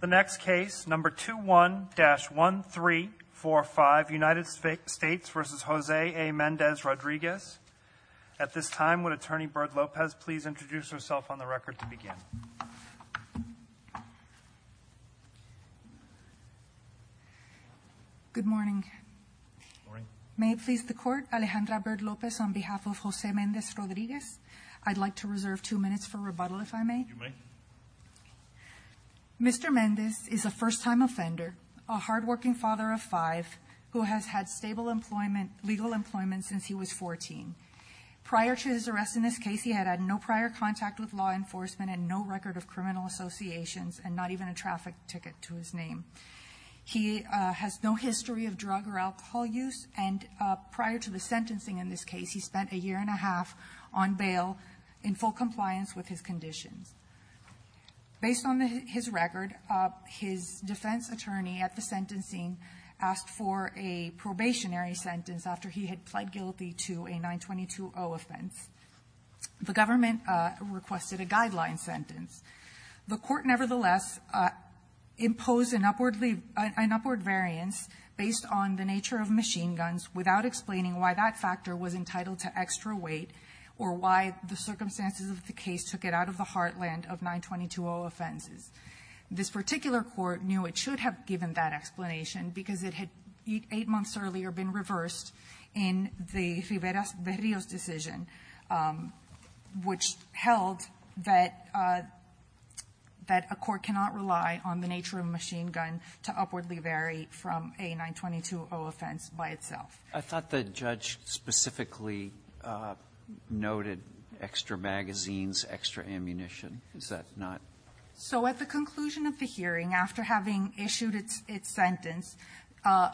The next case, number 21-1345, United States v. Jose A. Mendez-Rodriguez. At this time, would attorney Bird-Lopez please introduce herself on the record to begin? Good morning. May it please the court, Alejandra Bird-Lopez on behalf of Jose Mendez-Rodriguez. I'd like to reserve two minutes for rebuttal, if I may. If you may. Mr. Mendez is a first time offender, a hard working father of five, who has had stable legal employment since he was 14. Prior to his arrest in this case, he had had no prior contact with law enforcement and no record of criminal associations, and not even a traffic ticket to his name. He has no history of drug or alcohol use, and prior to the sentencing in this case, he spent a year and a half on bail in full compliance with his conditions. Based on his record, his defense attorney at the sentencing asked for a probationary sentence after he had pled guilty to a 922-0 offense. The government requested a guideline sentence. The court, nevertheless, imposed an upward variance based on the nature of machine guns without explaining why that factor was entitled to extra weight or why the circumstances of the case took it out of the heartland of 922-0 offenses. This particular court knew it should have given that explanation because it had eight months earlier been reversed in the Riveras-Verrios decision, which held that a court cannot rely on the nature of a machine gun to upwardly vary from a 922-0 offense by itself. I thought the judge specifically noted extra magazines, extra ammunition. Is that not? So at the conclusion of the hearing, after having issued its sentence,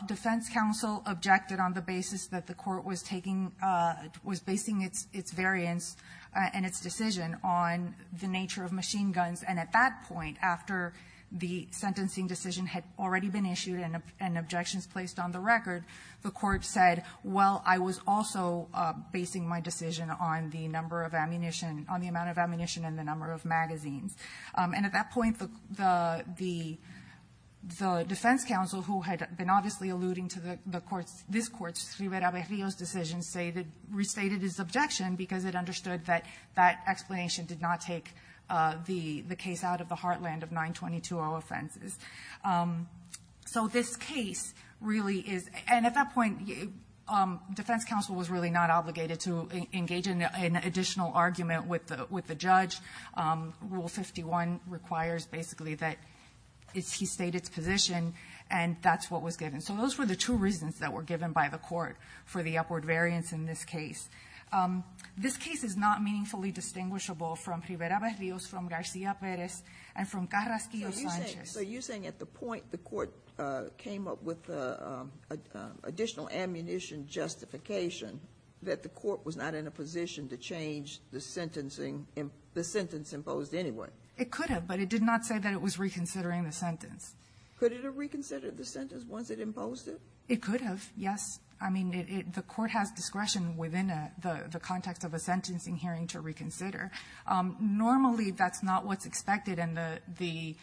defense counsel objected on the basis that the court was basing its variance and its decision on the nature of machine guns. And at that point, after the sentencing decision had already been issued and objections placed on the record, the court said, well, I was also basing my decision on the number of ammunition, on the amount of ammunition and the number of magazines. And at that point, the defense counsel, who had been obviously alluding to the court's, this court's Riveras-Verrios decision, restated its objection because it understood that that explanation did not take the case out of the heartland of 922-0 offenses. So this case really is, and at that point, defense counsel was really not obligated to engage in an additional argument with the judge. Rule 51 requires basically that he state its position, and that's what was given. And so those were the two reasons that were given by the court for the upward variance in this case. This case is not meaningfully distinguishable from Rivera-Verrios, from Garcia-Perez, and from Carrasquillo-Sanchez. So you're saying at the point the court came up with additional ammunition justification that the court was not in a position to change the sentence imposed anyway? It could have, but it did not say that it was reconsidering the sentence. Could it have reconsidered the sentence once it imposed it? It could have, yes. I mean, the court has discretion within the context of a sentencing hearing to reconsider. Normally, that's not what's expected, and the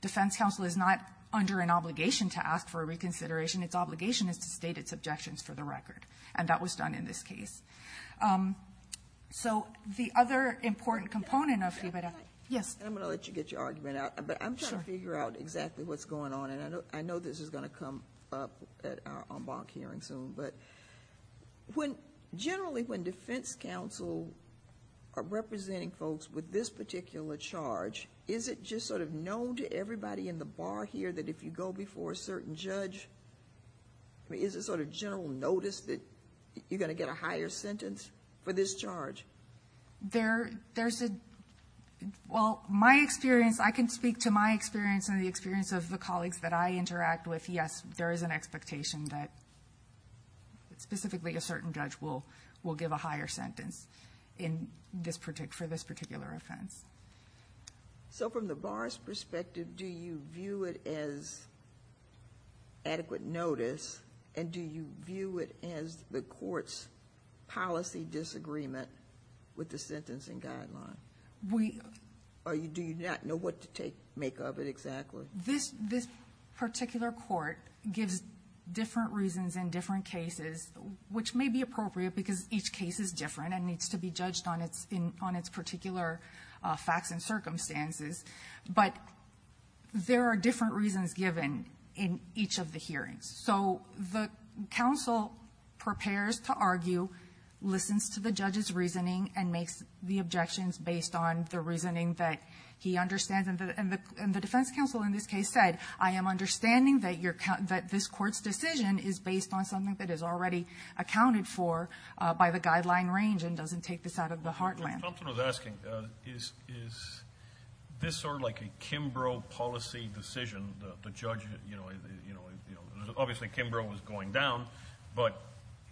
defense counsel is not under an obligation to ask for a reconsideration. Its obligation is to state its objections for the record, and that was done in this case. So the other important component of Rivera- Yes? I'm going to let you get your argument out, but I'm trying to figure out exactly what's going on. And I know this is going to come up at our en banc hearing soon, but generally when defense counsel are representing folks with this particular charge, is it just sort of known to everybody in the bar here that if you go before a certain judge, is it sort of general notice that you're going to get a higher sentence for this charge? There's a, well, my experience, I can speak to my experience and the experience of the colleagues that I interact with, yes, there is an expectation that specifically a certain judge will give a higher sentence for this particular offense. So from the bar's perspective, do you view it as adequate notice, and do you view it as the court's policy disagreement with the sentencing guideline? We- Or do you not know what to make of it exactly? This particular court gives different reasons in different cases, which may be appropriate because each case is different and needs to be judged on its particular facts and circumstances. But there are different reasons given in each of the hearings. So the counsel prepares to argue, listens to the judge's reasoning, and makes the objections based on the reasoning that he understands. And the defense counsel in this case said, I am understanding that this court's decision is based on something that is already accounted for by the guideline range and doesn't take this out of the heartland. What Thompson was asking, is this sort of like a Kimbrough policy decision, the judge, obviously Kimbrough was going down, but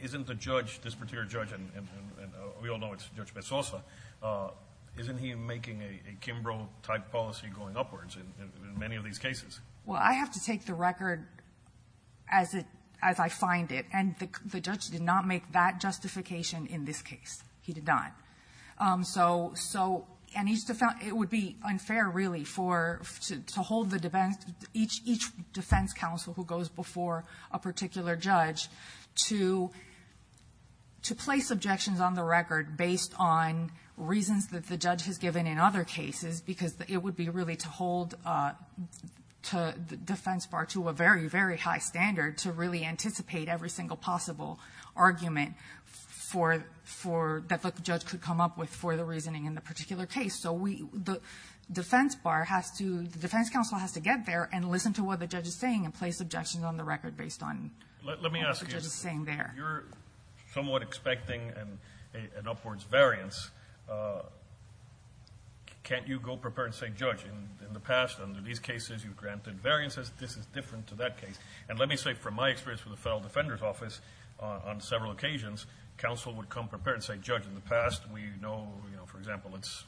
isn't the judge, this particular judge, and we all know it's Judge Bessosa, isn't he making a Kimbrough type policy going upwards in many of these cases? Well, I have to take the record as I find it. And the judge did not make that justification in this case. He did not. So, and it would be unfair really to hold each defense counsel who goes before a particular judge to place objections on the record based on reasons that the judge has given in other cases. Because it would be really to hold the defense bar to a very, very high standard to really anticipate every single possible argument for that the judge could come up with for the reasoning in the particular case. So we, the defense bar has to, the defense counsel has to get there and listen to what the judge is saying and place objections on the record based on what the judge is saying there. Let me ask you, if you're somewhat expecting an upwards variance, can't you go prepare and say, judge, in the past, under these cases, you've granted variances. This is different to that case. And let me say, from my experience with the Federal Defender's Office, on several occasions, counsel would come prepared and say, judge, in the past, we know, for example, it's.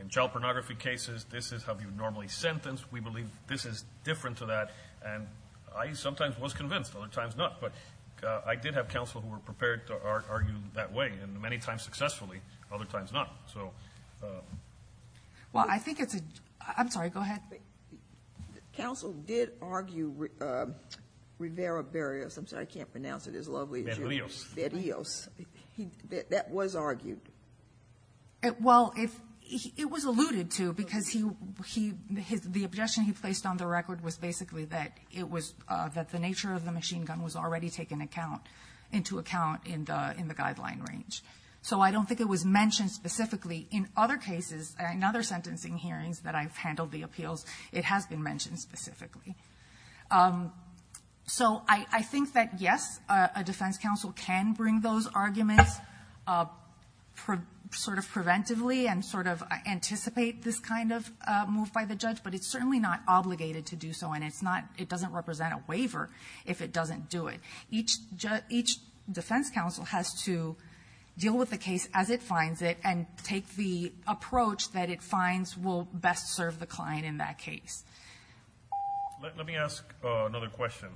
In child pornography cases, this is how you normally sentence. We believe this is different to that. And I sometimes was convinced, other times not. But I did have counsel who were prepared to argue that way, and many times successfully, other times not. So. Well, I think it's a, I'm sorry, go ahead. Counsel did argue Rivera Barrios, I'm sorry, I can't pronounce it as lovely as you. Berrios. Berrios, that was argued. Well, it was alluded to because he, the objection he placed on the record was basically that it was that the nature of the machine gun was already taken into account in the guideline range. So I don't think it was mentioned specifically. In other cases, in other sentencing hearings that I've handled the appeals, it has been mentioned specifically. So I think that yes, a defense counsel can bring those arguments sort of preventively and sort of anticipate this kind of move by the judge, but it's certainly not obligated to do so. And it's not, it doesn't represent a waiver if it doesn't do it. Each defense counsel has to deal with the case as it finds it, and take the approach that it finds will best serve the client in that case. Let me ask another question,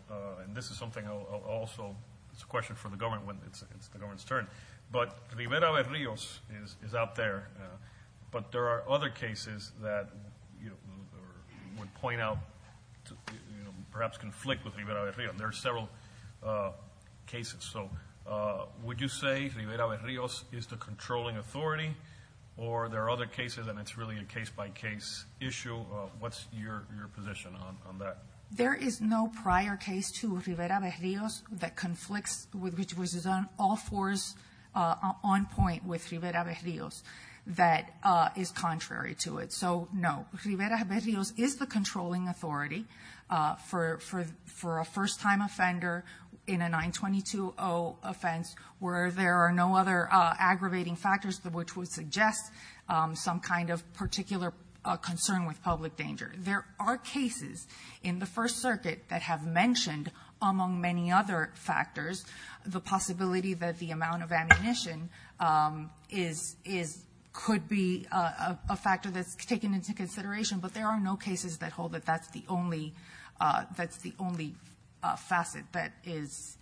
and this is something I'll also, it's a question for the government when it's the government's turn. But Rivera Barrios is out there, but there are other cases that would point out, perhaps conflict with Rivera Barrios. There are several cases, so would you say Rivera Barrios is the controlling authority? Or there are other cases, and it's really a case by case issue, what's your position on that? There is no prior case to Rivera Barrios that conflicts, which was on all fours on point with Rivera Barrios that is contrary to it. So no, Rivera Barrios is the controlling authority for a first time offender in a 922 offense where there are no other aggravating factors which would suggest some kind of particular concern with public danger. There are cases in the first circuit that have mentioned among many other factors the possibility that the amount of ammunition could be a factor that's taken into consideration, but there are no cases that hold that that's the only facet that is,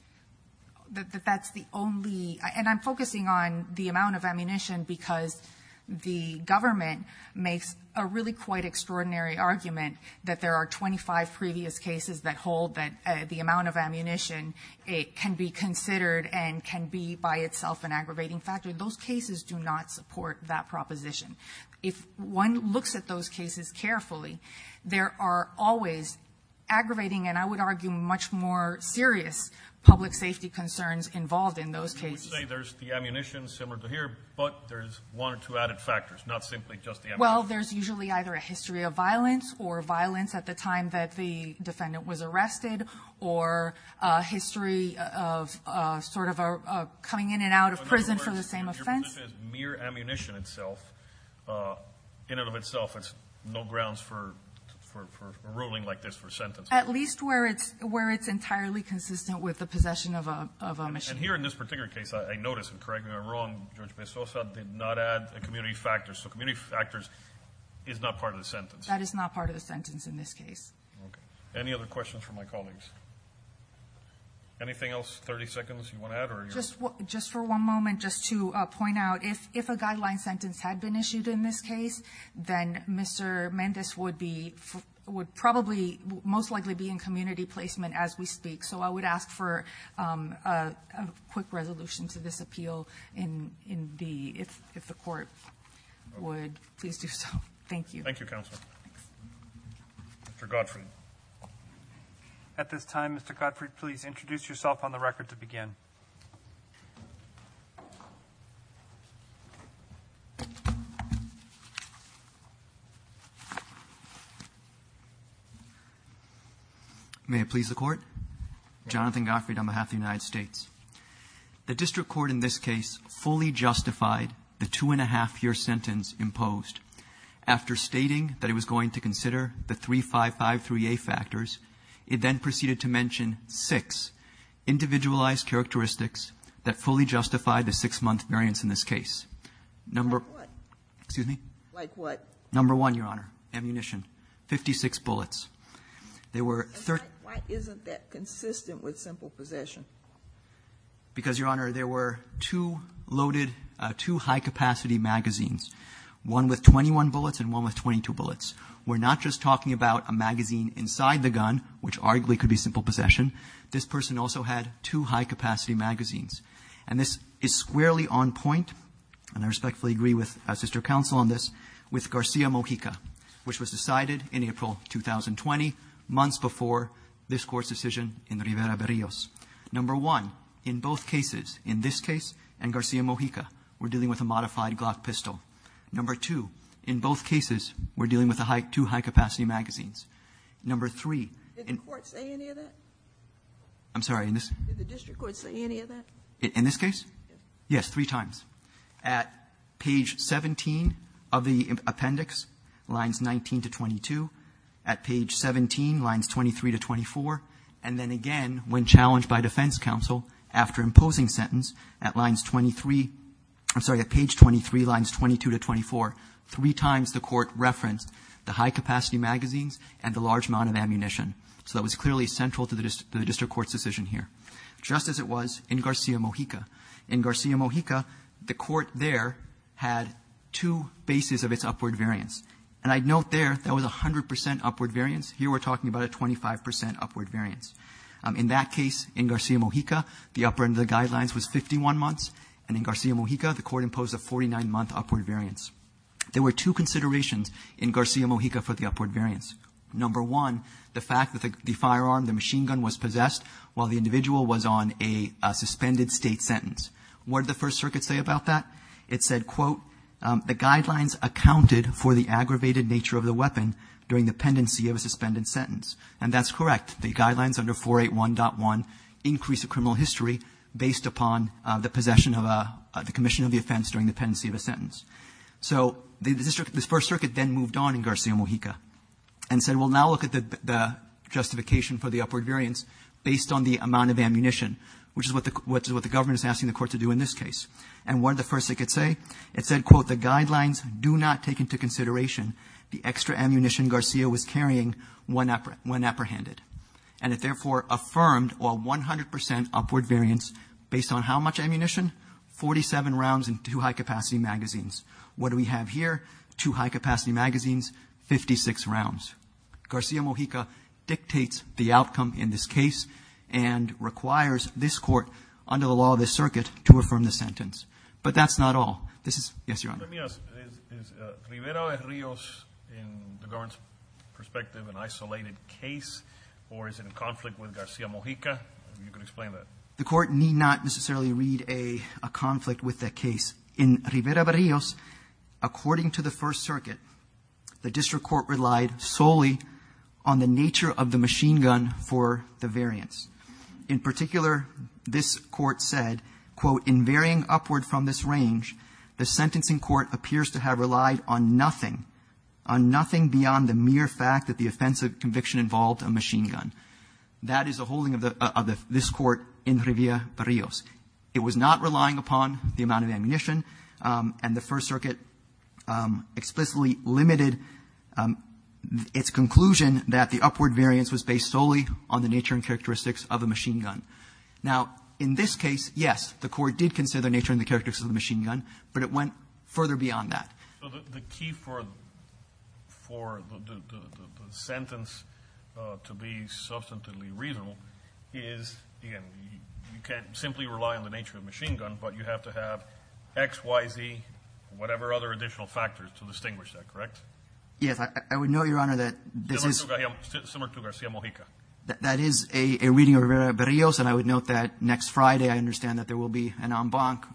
that that's the only, and I'm focusing on the amount of ammunition because the government makes a really quite extraordinary argument that there are 25 previous cases that hold that the amount of ammunition can be considered and can be by itself an aggravating factor. Those cases do not support that proposition. If one looks at those cases carefully, there are always aggravating, and I would argue much more serious public safety concerns involved in those cases. I would say there's the ammunition similar to here, but there's one or two added factors, not simply just the ammunition. Well, there's usually either a history of violence or violence at the time that the defendant was arrested. Or a history of sort of a coming in and out of prison for the same offense. But your position is mere ammunition itself, in and of itself, it's no grounds for ruling like this for a sentence. At least where it's entirely consistent with the possession of a machine. And here in this particular case, I notice, and correct me if I'm wrong, Judge Bessosa did not add a community factor. So community factors is not part of the sentence. That is not part of the sentence in this case. Okay, any other questions from my colleagues? Anything else, 30 seconds you want to add, or? Just for one moment, just to point out, if a guideline sentence had been issued in this case, then Mr. Mendez would probably most likely be in community placement as we speak. So I would ask for a quick resolution to this appeal if the court would, please do so. Thank you. Thank you, Counsel. Mr. Godfrey. At this time, Mr. Godfrey, please introduce yourself on the record to begin. May it please the court? Jonathan Godfrey on behalf of the United States. The district court in this case fully justified the two and a half year sentence imposed. After stating that it was going to consider the 3553A factors, it then proceeded to mention six individualized characteristics that fully justified the six month variance in this case. Number- Like what? Excuse me? Like what? Number one, Your Honor, ammunition, 56 bullets. There were- Why isn't that consistent with simple possession? Because, Your Honor, there were two loaded, two high capacity magazines. One with 21 bullets and one with 22 bullets. We're not just talking about a magazine inside the gun, which arguably could be simple possession. This person also had two high capacity magazines. And this is squarely on point, and I respectfully agree with Sister Counsel on this, with Garcia Mojica, which was decided in April 2020, months before this court's decision in Rivera Berrios. Number one, in both cases, in this case and Garcia Mojica, we're dealing with a modified Glock pistol. Number two, in both cases, we're dealing with a high, two high capacity magazines. Number three- Did the court say any of that? I'm sorry, in this- Did the district court say any of that? In this case? Yes, three times. At page 17 of the appendix, lines 19 to 22. At page 17, lines 23 to 24. And then again, when challenged by defense counsel, after imposing sentence, at lines 23, I'm sorry, at page 23, lines 22 to 24, three times the court referenced the high capacity magazines and the large amount of ammunition. So that was clearly central to the district court's decision here. Just as it was in Garcia Mojica. In Garcia Mojica, the court there had two bases of its upward variance. And I'd note there, that was 100% upward variance. Here we're talking about a 25% upward variance. In that case, in Garcia Mojica, the upper end of the guidelines was 51 months. And in Garcia Mojica, the court imposed a 49 month upward variance. There were two considerations in Garcia Mojica for the upward variance. Number one, the fact that the firearm, the machine gun was possessed while the individual was on a suspended state sentence. What did the first circuit say about that? It said, quote, the guidelines accounted for the aggravated nature of the weapon during the pendency of a suspended sentence. And that's correct, the guidelines under 481.1 increase the criminal history based upon the possession of the commission of the offense during the pendency of a sentence. So this first circuit then moved on in Garcia Mojica. And said, we'll now look at the justification for the upward variance based on the amount of ammunition. Which is what the government is asking the court to do in this case. And what did the first circuit say? It said, quote, the guidelines do not take into consideration the extra ammunition Garcia was carrying when apprehended. And it therefore affirmed a 100% upward variance based on how much ammunition? 47 rounds in two high capacity magazines. What do we have here? Two high capacity magazines, 56 rounds. Garcia Mojica dictates the outcome in this case and requires this court under the law of the circuit to affirm the sentence. But that's not all. This is, yes, your honor. Let me ask, is Rivera-Rios in the government's perspective an isolated case or is it in conflict with Garcia Mojica? You can explain that. The court need not necessarily read a conflict with that case. In Rivera-Rios, according to the first circuit, the district court relied solely on the nature of the machine gun for the variance. In particular, this court said, quote, in varying upward from this range, the sentencing court appears to have relied on nothing, on nothing beyond the mere fact that the offensive conviction involved a machine gun. That is the holding of this court in Rivera-Rios. It was not relying upon the amount of ammunition, and the first circuit explicitly limited its conclusion that the upward variance was based solely on the nature and characteristics of a machine gun. Now, in this case, yes, the court did consider the nature and the characteristics of the machine gun, but it went further beyond that. The key for the sentence to be substantively reasonable is, again, you can't simply rely on the nature of the machine gun, but you have to have X, Y, Z, whatever other additional factors to distinguish that, correct? Yes, I would note, Your Honor, that this is- Similar to Garcia-Mojica. That is a reading of Rivera-Rios, and I would note that next Friday I understand that there will be an en banc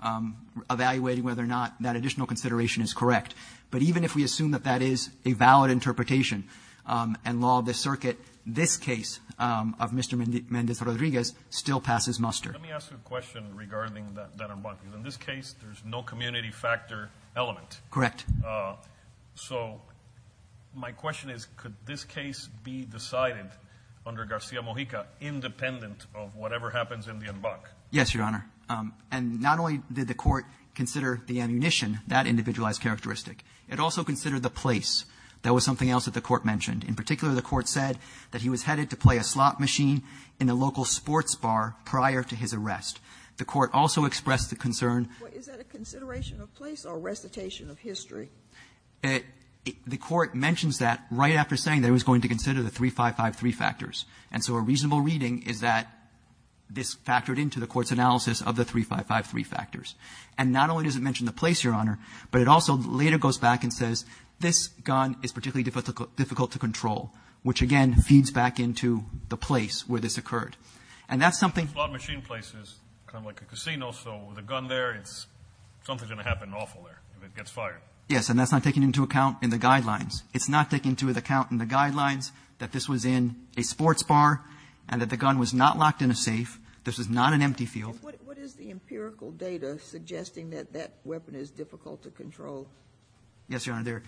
evaluating whether or not that additional consideration is correct. But even if we assume that that is a valid interpretation and law of the circuit, this case of Mr. Mendez Rodriguez still passes muster. Let me ask you a question regarding that en banc, because in this case, there's no community factor element. Correct. So my question is, could this case be decided under Garcia-Mojica independent of whatever happens in the en banc? Yes, Your Honor. And not only did the court consider the ammunition that individualized characteristic, it also considered the place that was something else that the court mentioned. In particular, the court said that he was headed to play a slot machine in a local sports bar prior to his arrest. The court also expressed the concern- Is that a consideration of place or recitation of history? The court mentions that right after saying that it was going to consider the 3553 factors. And so a reasonable reading is that this factored into the court's analysis of the 3553 factors. And not only does it mention the place, Your Honor, but it also later goes back and says this gun is particularly difficult to control, which again feeds back into the place where this occurred. And that's something- A slot machine place is kind of like a casino, so with a gun there, something's going to happen awful there if it gets fired. Yes, and that's not taken into account in the guidelines. It's not taken into account in the guidelines that this was in a sports bar and that the gun was not locked in a safe. This was not an empty field. What is the empirical data suggesting that that weapon is difficult to control? Yes, Your Honor,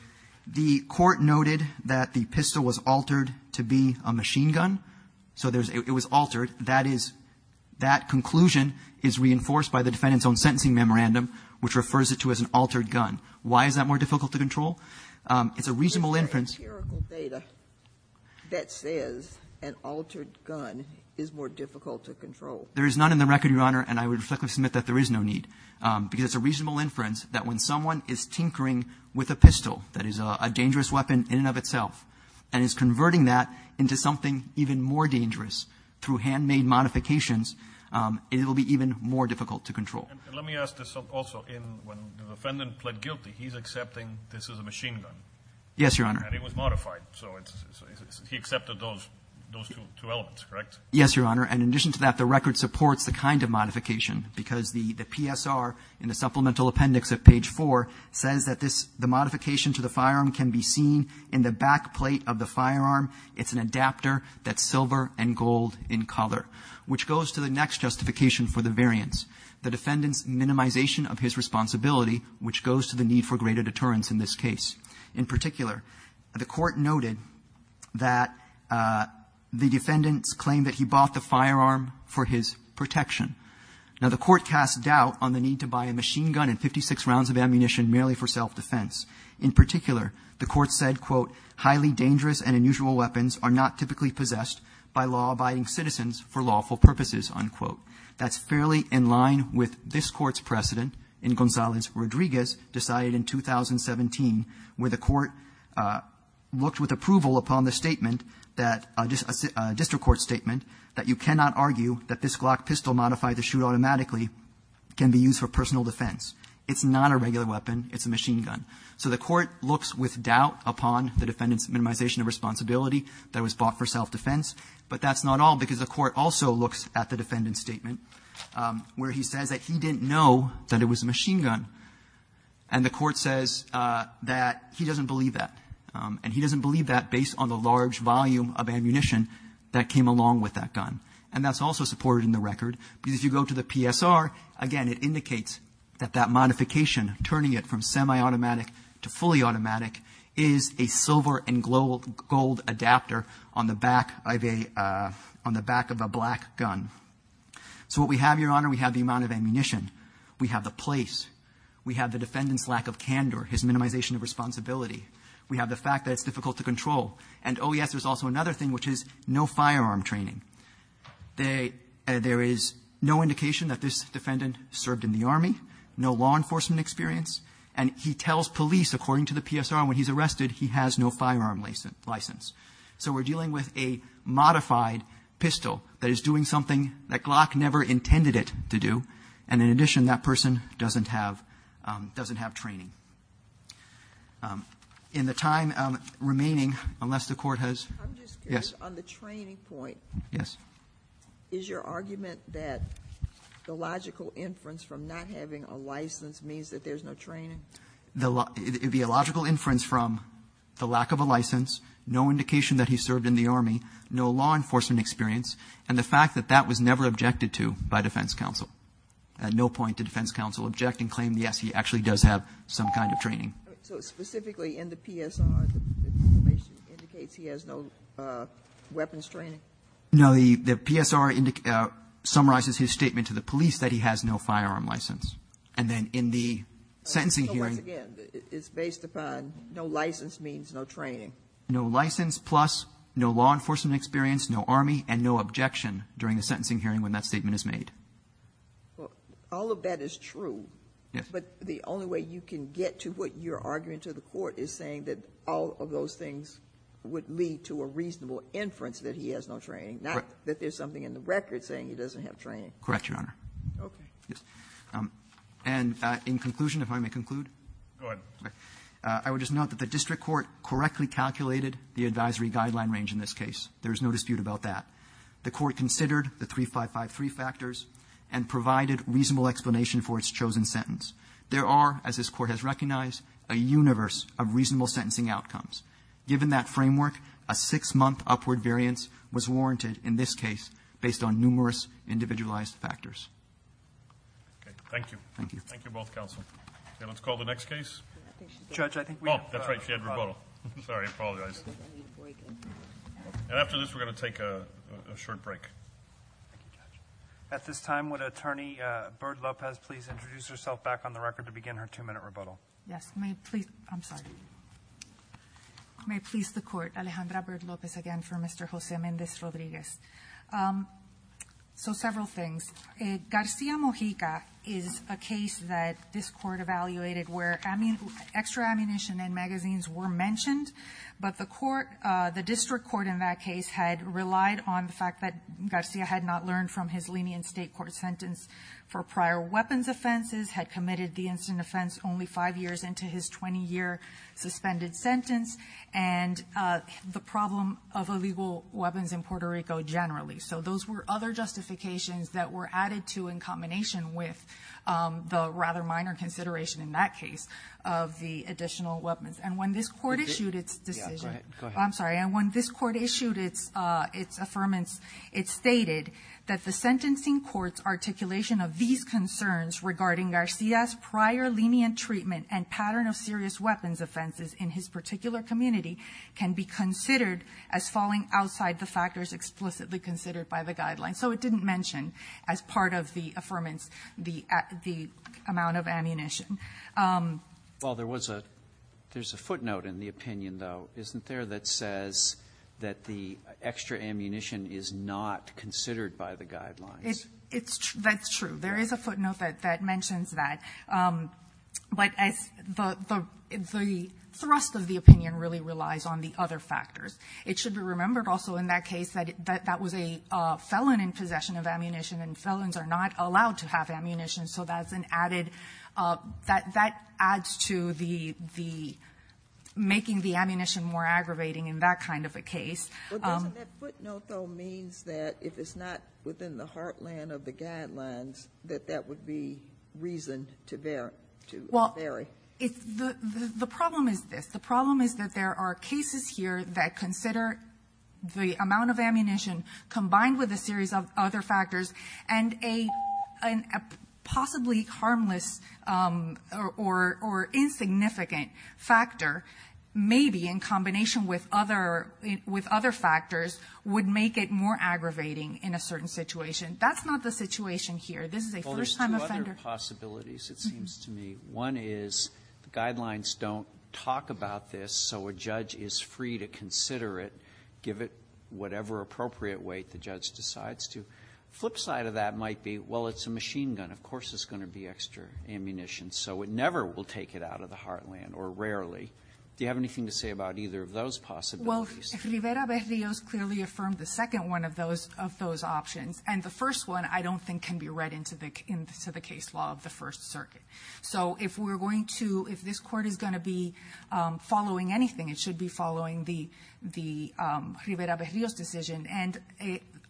the court noted that the pistol was altered to be a machine gun. So it was altered. That is, that conclusion is reinforced by the defendant's own sentencing memorandum, which refers it to as an altered gun. Why is that more difficult to control? It's a reasonable inference- But what is the empirical data that says an altered gun is more difficult to control? There is none in the record, Your Honor, and I would respectfully submit that there is no evidence that the defendant is tinkering with a pistol that is a dangerous weapon in and of itself and is converting that into something even more dangerous through handmade modifications. It will be even more difficult to control. And let me ask this also. When the defendant pled guilty, he's accepting this is a machine gun? Yes, Your Honor. And it was modified, so he accepted those two elements, correct? Yes, Your Honor. And in addition to that, the record supports the kind of modification because the PSR in the supplemental appendix of page 4 says that this, the modification to the firearm can be seen in the back plate of the firearm. It's an adapter that's silver and gold in color, which goes to the next justification for the variance, the defendant's minimization of his responsibility, which goes to the need for greater deterrence in this case. In particular, the Court noted that the defendant's claim that he bought the firearm for his protection. Now, the Court cast doubt on the need to buy a machine gun and 56 rounds of ammunition merely for self-defense. In particular, the Court said, quote, highly dangerous and unusual weapons are not typically possessed by law-abiding citizens for lawful purposes, unquote. That's fairly in line with this Court's precedent in Gonzales-Rodriguez, decided in 2017, where the Court looked with approval upon the statement that, a district court statement, that you cannot argue that this Glock pistol modified to shoot automatically can be used for personal defense. It's not a regular weapon, it's a machine gun. So the Court looks with doubt upon the defendant's minimization of responsibility that was bought for self-defense. But that's not all, because the Court also looks at the defendant's statement, where he says that he didn't know that it was a machine gun. And the Court says that he doesn't believe that. And he doesn't believe that based on the large volume of ammunition that came along with that gun. And that's also supported in the record, because if you go to the PSR, again, it indicates that that modification, turning it from semi-automatic to fully automatic, is a silver and gold adapter on the back of a black gun. So what we have, Your Honor, we have the amount of ammunition. We have the place. We have the defendant's lack of candor, his minimization of responsibility. We have the fact that it's difficult to control. And, oh, yes, there's also another thing, which is no firearm training. There is no indication that this defendant served in the Army, no law enforcement experience. And he tells police, according to the PSR, when he's arrested, he has no firearm license. So we're dealing with a modified pistol that is doing something that Glock never intended it to do. And in addition, that person doesn't have training. In the time remaining, unless the Court has yes. Sotomayor, on the training point, is your argument that the logical inference from not having a license means that there's no training? It would be a logical inference from the lack of a license, no indication that he served in the Army, no law enforcement experience, and the fact that that was never objected to by defense counsel, no point to defense counsel objecting to the claim, yes, he actually does have some kind of training. So specifically in the PSR, the information indicates he has no weapons training? No, the PSR summarizes his statement to the police that he has no firearm license. And then in the sentencing hearing. So, once again, it's based upon no license means no training. No license plus no law enforcement experience, no Army, and no objection during the sentencing hearing when that statement is made. All of that is true. Yes. But the only way you can get to what you're arguing to the Court is saying that all of those things would lead to a reasonable inference that he has no training, not that there's something in the record saying he doesn't have training. Correct, Your Honor. Okay. And in conclusion, if I may conclude. Go ahead. I would just note that the district court correctly calculated the advisory guideline range in this case. There is no dispute about that. The court considered the 3553 factors and provided reasonable explanation for its chosen sentence. There are, as this court has recognized, a universe of reasonable sentencing outcomes. Given that framework, a six month upward variance was warranted in this case based on numerous individualized factors. Okay, thank you. Thank you. Thank you both counsel. Okay, let's call the next case. Judge, I think we- That's right, she had rebuttal. Sorry, I apologize. I need a break. And after this, we're going to take a short break. At this time, would Attorney Bird Lopez please introduce herself back on the record to begin her two minute rebuttal? Yes, may it please, I'm sorry. May it please the court, Alejandra Bird Lopez again for Mr. Jose Mendez Rodriguez. So several things. Garcia Mojica is a case that this court evaluated where extra ammunition and magazines were mentioned. But the court, the district court in that case had relied on the fact that Garcia had not learned from his lenient state court sentence for prior weapons offenses, had committed the incident offense only five years into his 20 year suspended sentence. And the problem of illegal weapons in Puerto Rico generally. So those were other justifications that were added to in combination with the rather minor consideration in that case of the additional weapons. And when this court issued its decision, I'm sorry, and when this court issued its affirmance, it stated that the sentencing court's articulation of these concerns regarding Garcia's prior lenient treatment and pattern of serious weapons offenses in his particular community can be considered as falling outside the factors explicitly considered by the guidelines. So it didn't mention as part of the affirmance the amount of ammunition. Well, there's a footnote in the opinion, though, isn't there, that says that the extra ammunition is not considered by the guidelines? That's true. There is a footnote that mentions that. But the thrust of the opinion really relies on the other factors. It should be remembered also in that case that that was a felon in possession of ammunition, and felons are not allowed to have ammunition. So that adds to the making the ammunition more aggravating in that kind of a case. But doesn't that footnote, though, means that if it's not within the heartland of the guidelines, that that would be reason to vary? Well, the problem is this. The problem is that there are cases here that consider the amount of ammunition combined with a series of other factors. And a possibly harmless or insignificant factor, maybe in combination with other factors, would make it more aggravating in a certain situation. That's not the situation here. This is a first time offender. There's two other possibilities, it seems to me. One is, the guidelines don't talk about this so a judge is free to consider it, give it whatever appropriate weight the judge decides to. Flip side of that might be, well, it's a machine gun, of course it's going to be extra ammunition, so it never will take it out of the heartland, or rarely. Do you have anything to say about either of those possibilities? Well, Rivera-Berrios clearly affirmed the second one of those options. And the first one, I don't think, can be read into the case law of the First Circuit. So if this court is going to be following anything, it should be following the Rivera-Berrios decision. And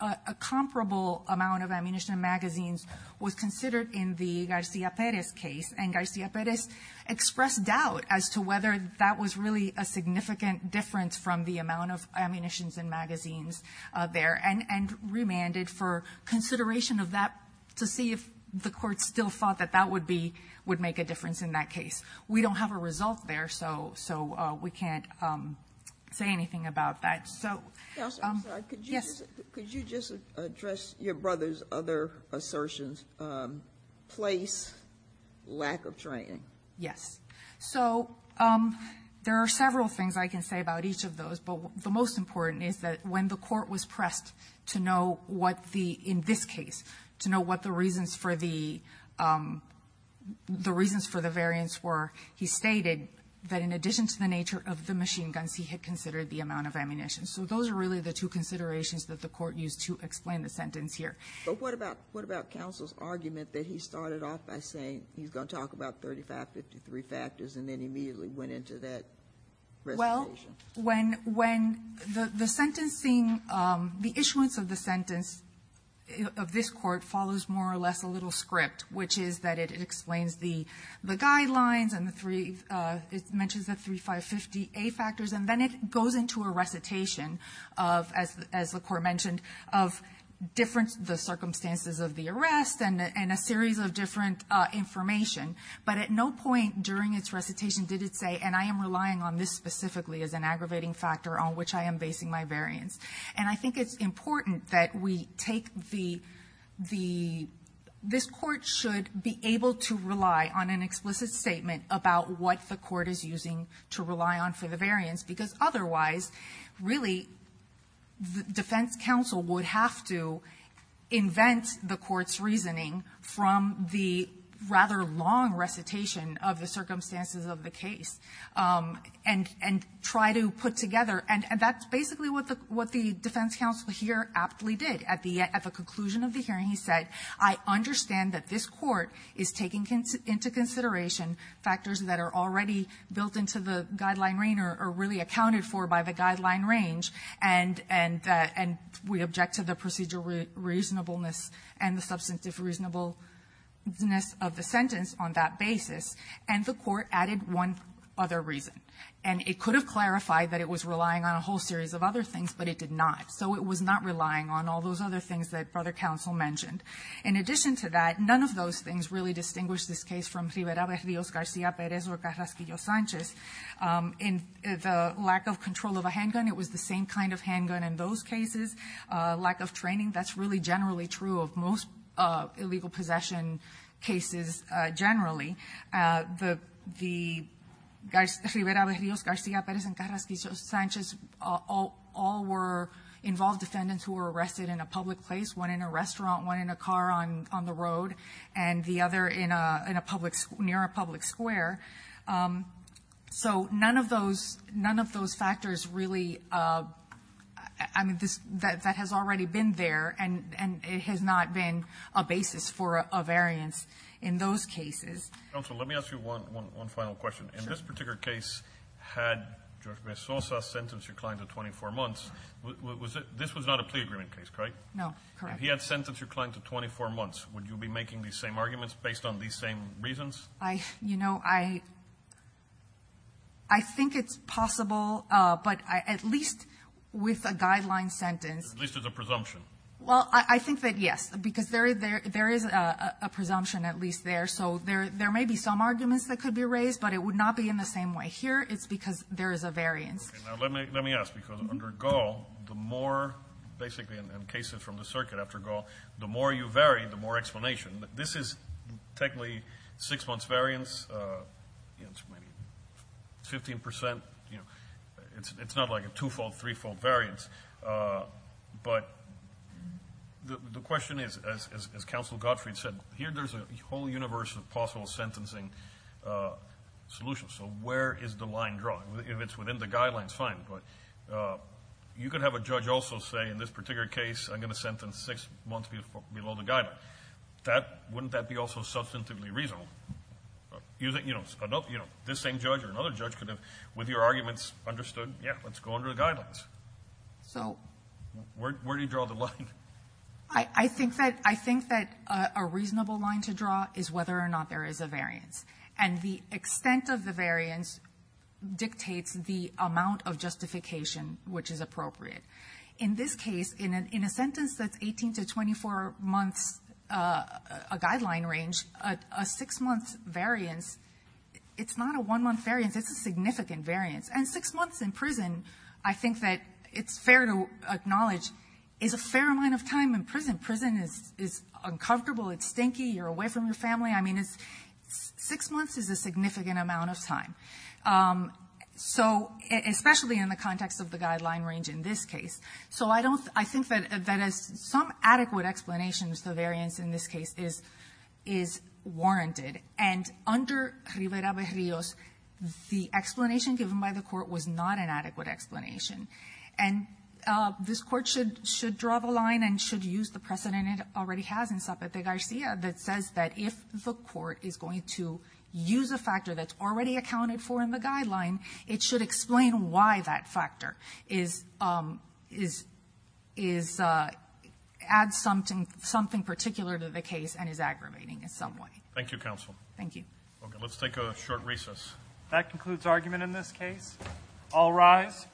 a comparable amount of ammunition magazines was considered in the Garcia Perez case. And Garcia Perez expressed doubt as to whether that was really a significant difference from the amount of ammunitions and magazines there, and remanded for consideration of that to see if the court still thought that that would make a difference in that case. We don't have a result there, so we can't say anything about that. So- Counselor, I'm sorry, could you just address your brother's other assertions, place, lack of training? Yes, so there are several things I can say about each of those. But the most important is that when the court was pressed to know what the, in this case, to know what the reasons for the variance were, he stated that in addition to the nature of the machine guns, he had considered the amount of ammunition. So those are really the two considerations that the court used to explain the sentence here. But what about counsel's argument that he started off by saying he's going to talk about 3553 factors, and then immediately went into that? Well, when the sentencing, the issuance of the sentence of this court follows more or less a little script, which is that it explains the guidelines and the three, it mentions the 3550A factors. And then it goes into a recitation of, as the court mentioned, of different, the circumstances of the arrest and a series of different information. But at no point during its recitation did it say, and I am relying on this specifically as an aggravating factor on which I am basing my variance. And I think it's important that we take the, this court should be able to rely on an explicit statement about what the court is using to rely on for the variance, because otherwise, really, the defense counsel would have to invent the court's reasoning from the rather long recitation of the circumstances of the case. And try to put together, and that's basically what the defense counsel here aptly did. At the conclusion of the hearing, he said, I understand that this court is taking into consideration factors that are already built into the guideline range or really accounted for by the guideline range. And we object to the procedural reasonableness and the substantive reasonableness of the sentence on that basis. And the court added one other reason. And it could have clarified that it was relying on a whole series of other things, but it did not. So it was not relying on all those other things that brother counsel mentioned. In addition to that, none of those things really distinguish this case from Rivera, Berrios, Garcia, Perez, or Carrasquillo-Sanchez. In the lack of control of a handgun, it was the same kind of handgun in those cases. Lack of training, that's really generally true of most illegal possession cases generally. The Rivera, Berrios, Garcia, Perez, and Carrasquillo-Sanchez all were involved defendants who were arrested in a public place. One in a restaurant, one in a car on the road, and the other near a public square. So none of those factors really, that has already been there, and it has not been a basis for a variance in those cases. Counsel, let me ask you one final question. In this particular case, had George Bezosa sentenced your client to 24 months, this was not a plea agreement case, correct? No, correct. If he had sentenced your client to 24 months, would you be making these same arguments based on these same reasons? You know, I think it's possible, but at least with a guideline sentence. At least it's a presumption. Well, I think that yes, because there is a presumption at least there. So there may be some arguments that could be raised, but it would not be in the same way. Here, it's because there is a variance. Okay, now let me ask, because under Gaul, the more, basically in cases from the circuit after Gaul, the more you vary, the more explanation. This is technically six months variance. It's maybe 15%, it's not like a two-fold, three-fold variance. But the question is, as Counsel Gottfried said, here there's a whole universe of possible sentencing solutions. So where is the line drawn? If it's within the guidelines, fine, but you could have a judge also say, in this particular case, I'm going to sentence six months below the guideline. Wouldn't that be also substantively reasonable? This same judge or another judge could have, with your arguments, understood, yeah, let's go under the guidelines. So, where do you draw the line? I think that a reasonable line to draw is whether or not there is a variance. And the extent of the variance dictates the amount of justification which is appropriate. In this case, in a sentence that's 18 to 24 months, a guideline range, a six month variance, it's not a one month variance, it's a significant variance. And six months in prison, I think that it's fair to acknowledge, is a fair amount of time in prison. Prison is uncomfortable, it's stinky, you're away from your family. I mean, six months is a significant amount of time. So, especially in the context of the guideline range in this case. So, I think that as some adequate explanations, the variance in this case is warranted. And under Rivera-Berrios, the explanation given by the court was not an adequate explanation. And this court should draw the line and should use the precedent it already has in Zapata-Garcia that says that if the court is going to use a factor that's already accounted for in the guideline, it should explain why that factor adds something particular to the case and is aggravating in some way. Thank you, counsel. Thank you. Okay, let's take a short recess. That concludes argument in this case. All rise.